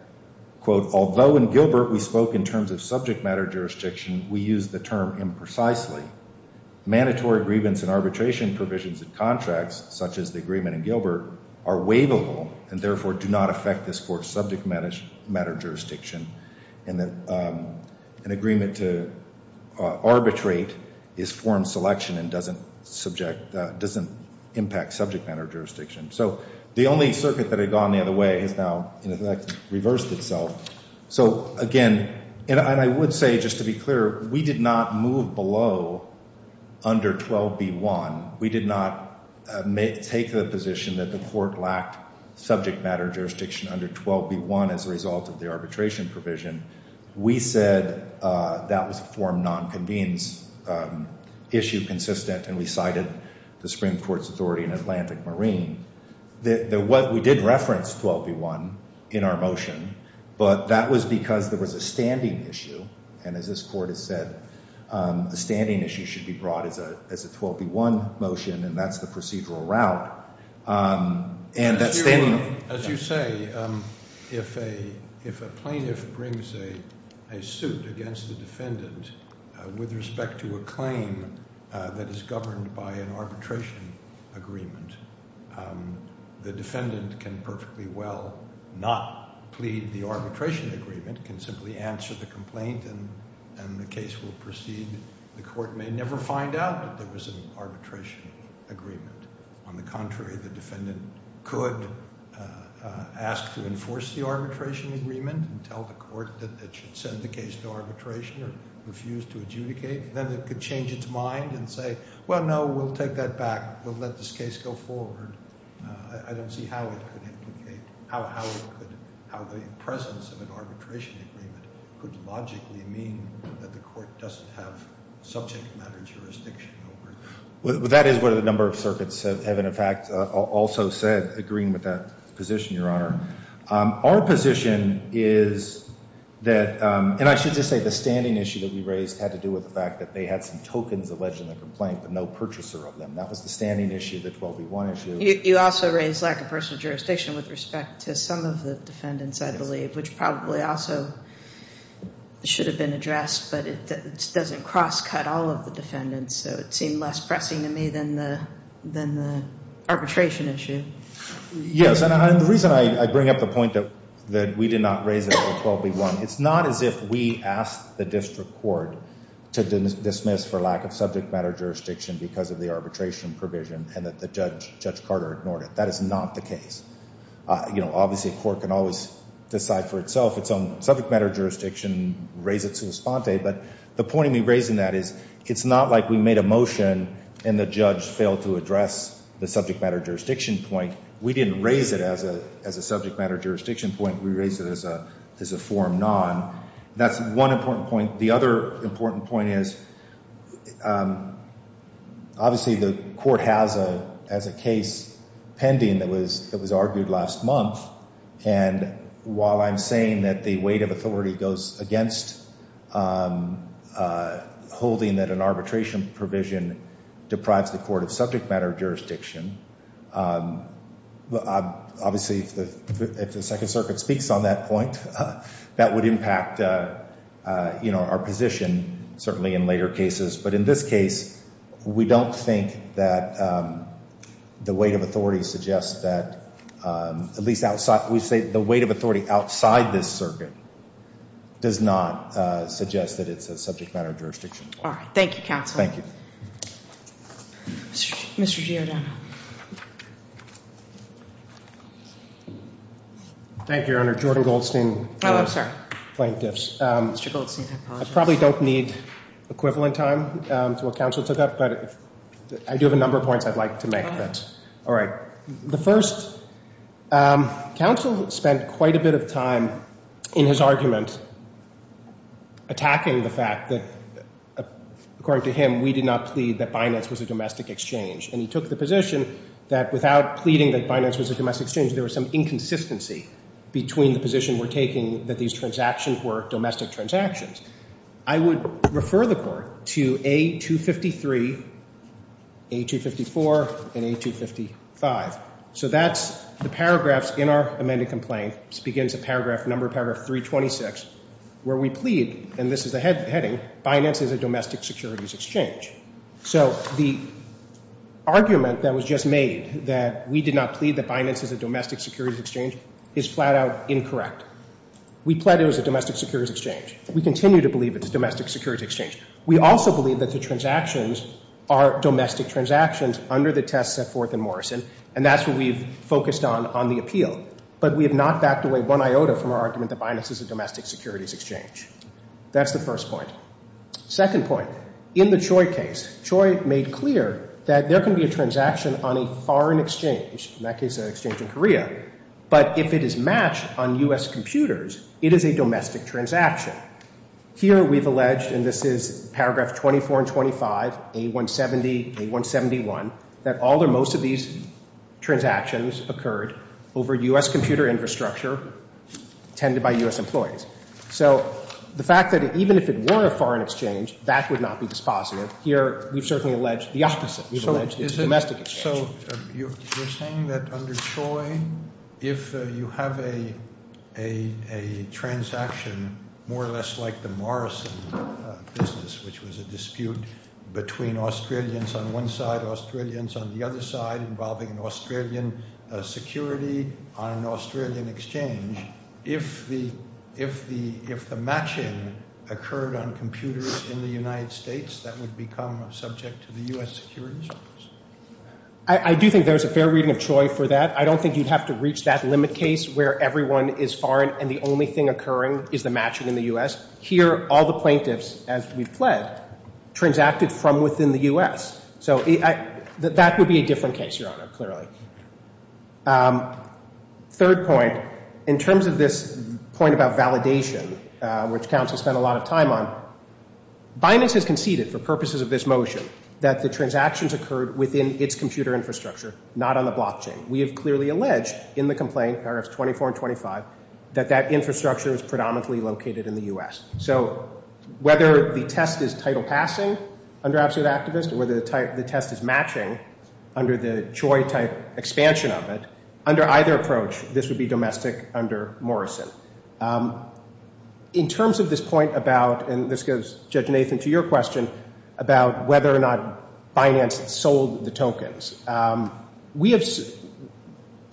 although in Gilbert we spoke in terms of subject matter jurisdiction we used the term imprecisely mandatory grievance and arbitration provisions and contracts such as the agreement in Gilbert are waivable and therefore do not affect this court's subject matter jurisdiction an agreement to arbitrate is form selection and doesn't impact subject matter jurisdiction so the only circuit that had gone the other way has now reversed itself and I would say just to be clear we did not move below under 12b.1 we did not take the position that the court lacked subject matter jurisdiction under 12b.1 as a result of the arbitration provision we said that was a form non convenes issue consistent and we cited the Supreme Court's authority in Atlantic Marine we did reference 12b.1 in our motion but that was because there was a standing issue and as this court has said a standing issue should be brought as a 12b.1 motion and that's the procedural route and that as you say if a plaintiff brings a suit against the defendant with respect to a claim that is governed by an arbitration agreement the defendant can perfectly well not plead the arbitration agreement can simply answer the complaint and the case will proceed the court may never find out that there was an arbitration agreement on the contrary the defendant could ask to enforce the arbitration agreement and tell the court that it should send the case to arbitration or refuse to adjudicate then it could change its mind and say well no we'll take that back we'll let this case go forward I don't see how it could implicate how the presence of an arbitration agreement could logically mean that the court doesn't have subject matter jurisdiction over it that is what a number of circuits have in fact also said agreeing with that position your honor our position is that and I should just say the standing issue that we raised had to do with the fact that they had some tokens alleged in the complaint but no purchaser of them that was the standing issue of the 12b1 issue you also raised lack of personal jurisdiction with respect to some of the defendants I believe which probably also should have been addressed but it doesn't cross cut all of the defendants so it seemed less pressing to me than the arbitration issue yes and the reason I bring up the point that we did not raise it for 12b1 it's not as if we asked the district court to dismiss for lack of subject matter jurisdiction because of the arbitration provision and that Judge Carter ignored it that is not the case obviously a court can always decide for itself its own subject matter jurisdiction and raise it to espante but the point we raised in that is it's not like we made a motion and the judge failed to address the subject matter jurisdiction point we didn't raise it as a subject matter jurisdiction point we raised it as a form non that's one important point the other important point is obviously the court has a case pending that was argued last month and while I'm against holding that an arbitration provision deprives the court of subject matter jurisdiction obviously if the second circuit speaks on that point that would impact our position certainly in later cases but in this case we don't think that the weight of authority suggests that we say the weight of authority outside this circuit does not suggest that it's a subject matter jurisdiction point thank you counsel Mr. Giordano thank you your honor Jordan Goldstein plaintiffs I probably don't need equivalent time to what counsel took up but I do have a number of points I'd like to make the first counsel spent quite a bit of time in his argument attacking the fact that according to him we did not plead that Binance was a domestic exchange and he took the position that without pleading that Binance was a domestic exchange there was some inconsistency between the position we're taking that these transactions were domestic transactions I would refer the court to A253 A254 and A255 so that's the paragraphs in our amended complaint begins at number paragraph 326 where we plead and this is the heading Binance is a domestic securities exchange so the argument that was just made that we did not plead that Binance is a domestic securities exchange is flat out incorrect we plead it was a domestic securities exchange we continue to believe it's a domestic securities exchange we also believe that the transactions are domestic transactions under the test set forth in Morrison and that's what we've focused on on the appeal but we have not backed away one iota from our argument that Binance is a domestic securities exchange that's the first point second point in the Choi case Choi made clear that there can be a transaction on a foreign exchange in that case an exchange in Korea but if it is matched on U.S. computers it is a domestic transaction here we've alleged and this is A425, A170, A171 that all or most of these transactions occurred over U.S. computer infrastructure tended by U.S. employees so the fact that even if it were a foreign exchange that would not be dispositive here we've certainly alleged the opposite so you're saying that under Choi if you have a a transaction more or less like the Morrison business which was a dispute between Australians on one side Australians on the other side involving an Australian security on an Australian exchange if the if the matching occurred on computers in the United States that would become subject to the U.S. securities I do think there's a fair reading of Choi for that I don't think you'd have to reach that limit case where everyone is foreign and the only thing occurring is the matching in the U.S. here all the plaintiffs as we've pled transacted from within the U.S. so that would be a different case your honor clearly third point in terms of this point about validation which counsel spent a lot of time on Binance has conceded for purposes of this motion that the transactions occurred within its computer infrastructure not on the blockchain we have clearly alleged in the complaint paragraphs 24 and 25 that that infrastructure is predominantly located in the U.S. so whether the test is title passing under absolute activist or whether the test is matching under the Choi type expansion of it under either approach this would be domestic under Morrison in terms of this point about and this goes Judge Nathan to your question about whether or not Binance sold the tokens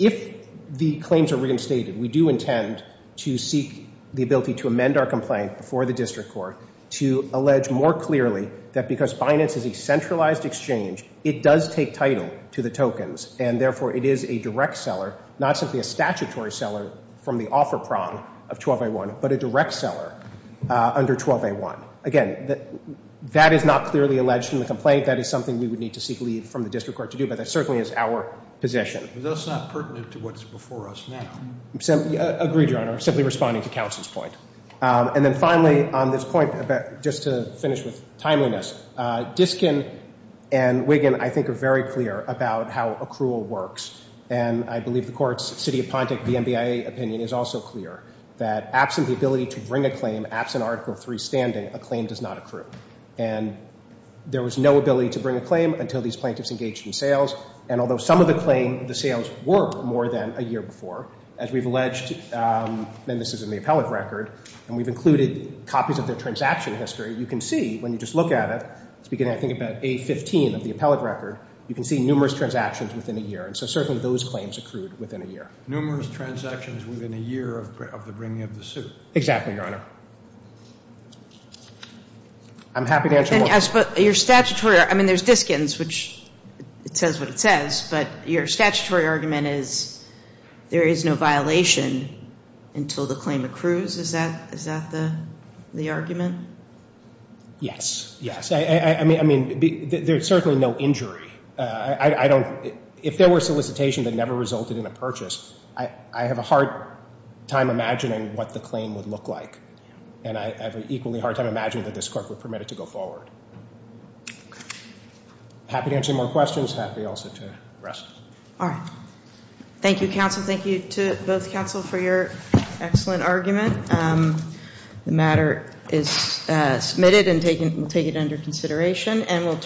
if the claims are reinstated we do intend to seek the ability to amend our complaint before the district court to allege more clearly that because Binance is a centralized exchange it does take title to the tokens and therefore it is a direct seller not simply a statutory seller from the offer prong of 12A1 but a direct seller under 12A1 again that is not clearly alleged in the complaint that is something we would need to seek leave from the district court to do but that certainly is our position. Is this not pertinent to what is before us now? Agreed your honor, simply responding to counsel's point and then finally on this point just to finish with timeliness Diskin and Wiggin I think are very clear about how accrual works and I believe the courts city of Pontic the NBIA opinion is also clear that absent the ability to bring a claim absent article 3 standing a claim does not accrue and there was no ability to bring a claim until these and so when you look at the claim the sales were more than a year before as we've alleged and this is in the appellate record and we've included copies of the transaction history you can see when you just look at it beginning I think about A15 of the appellate record you can see numerous transactions within a year and so certainly those claims accrued within a year. Numerous transactions within a year of the bringing of the suit exactly your honor I'm happy to answer more but your statutory I mean there's Diskins which says what it says but your statutory argument is there is no violation until the claim accrues is that the argument yes yes I mean there's certainly no injury I don't if there were solicitation that never resulted in a purchase I have a hard time imagining what the claim would look like and I have an equally hard time imagining that this court would permit it to go forward happy to answer more questions happy also to rest thank you counsel thank you to both counsel for your excellent argument the matter is submitted and we'll take it under consideration and we'll turn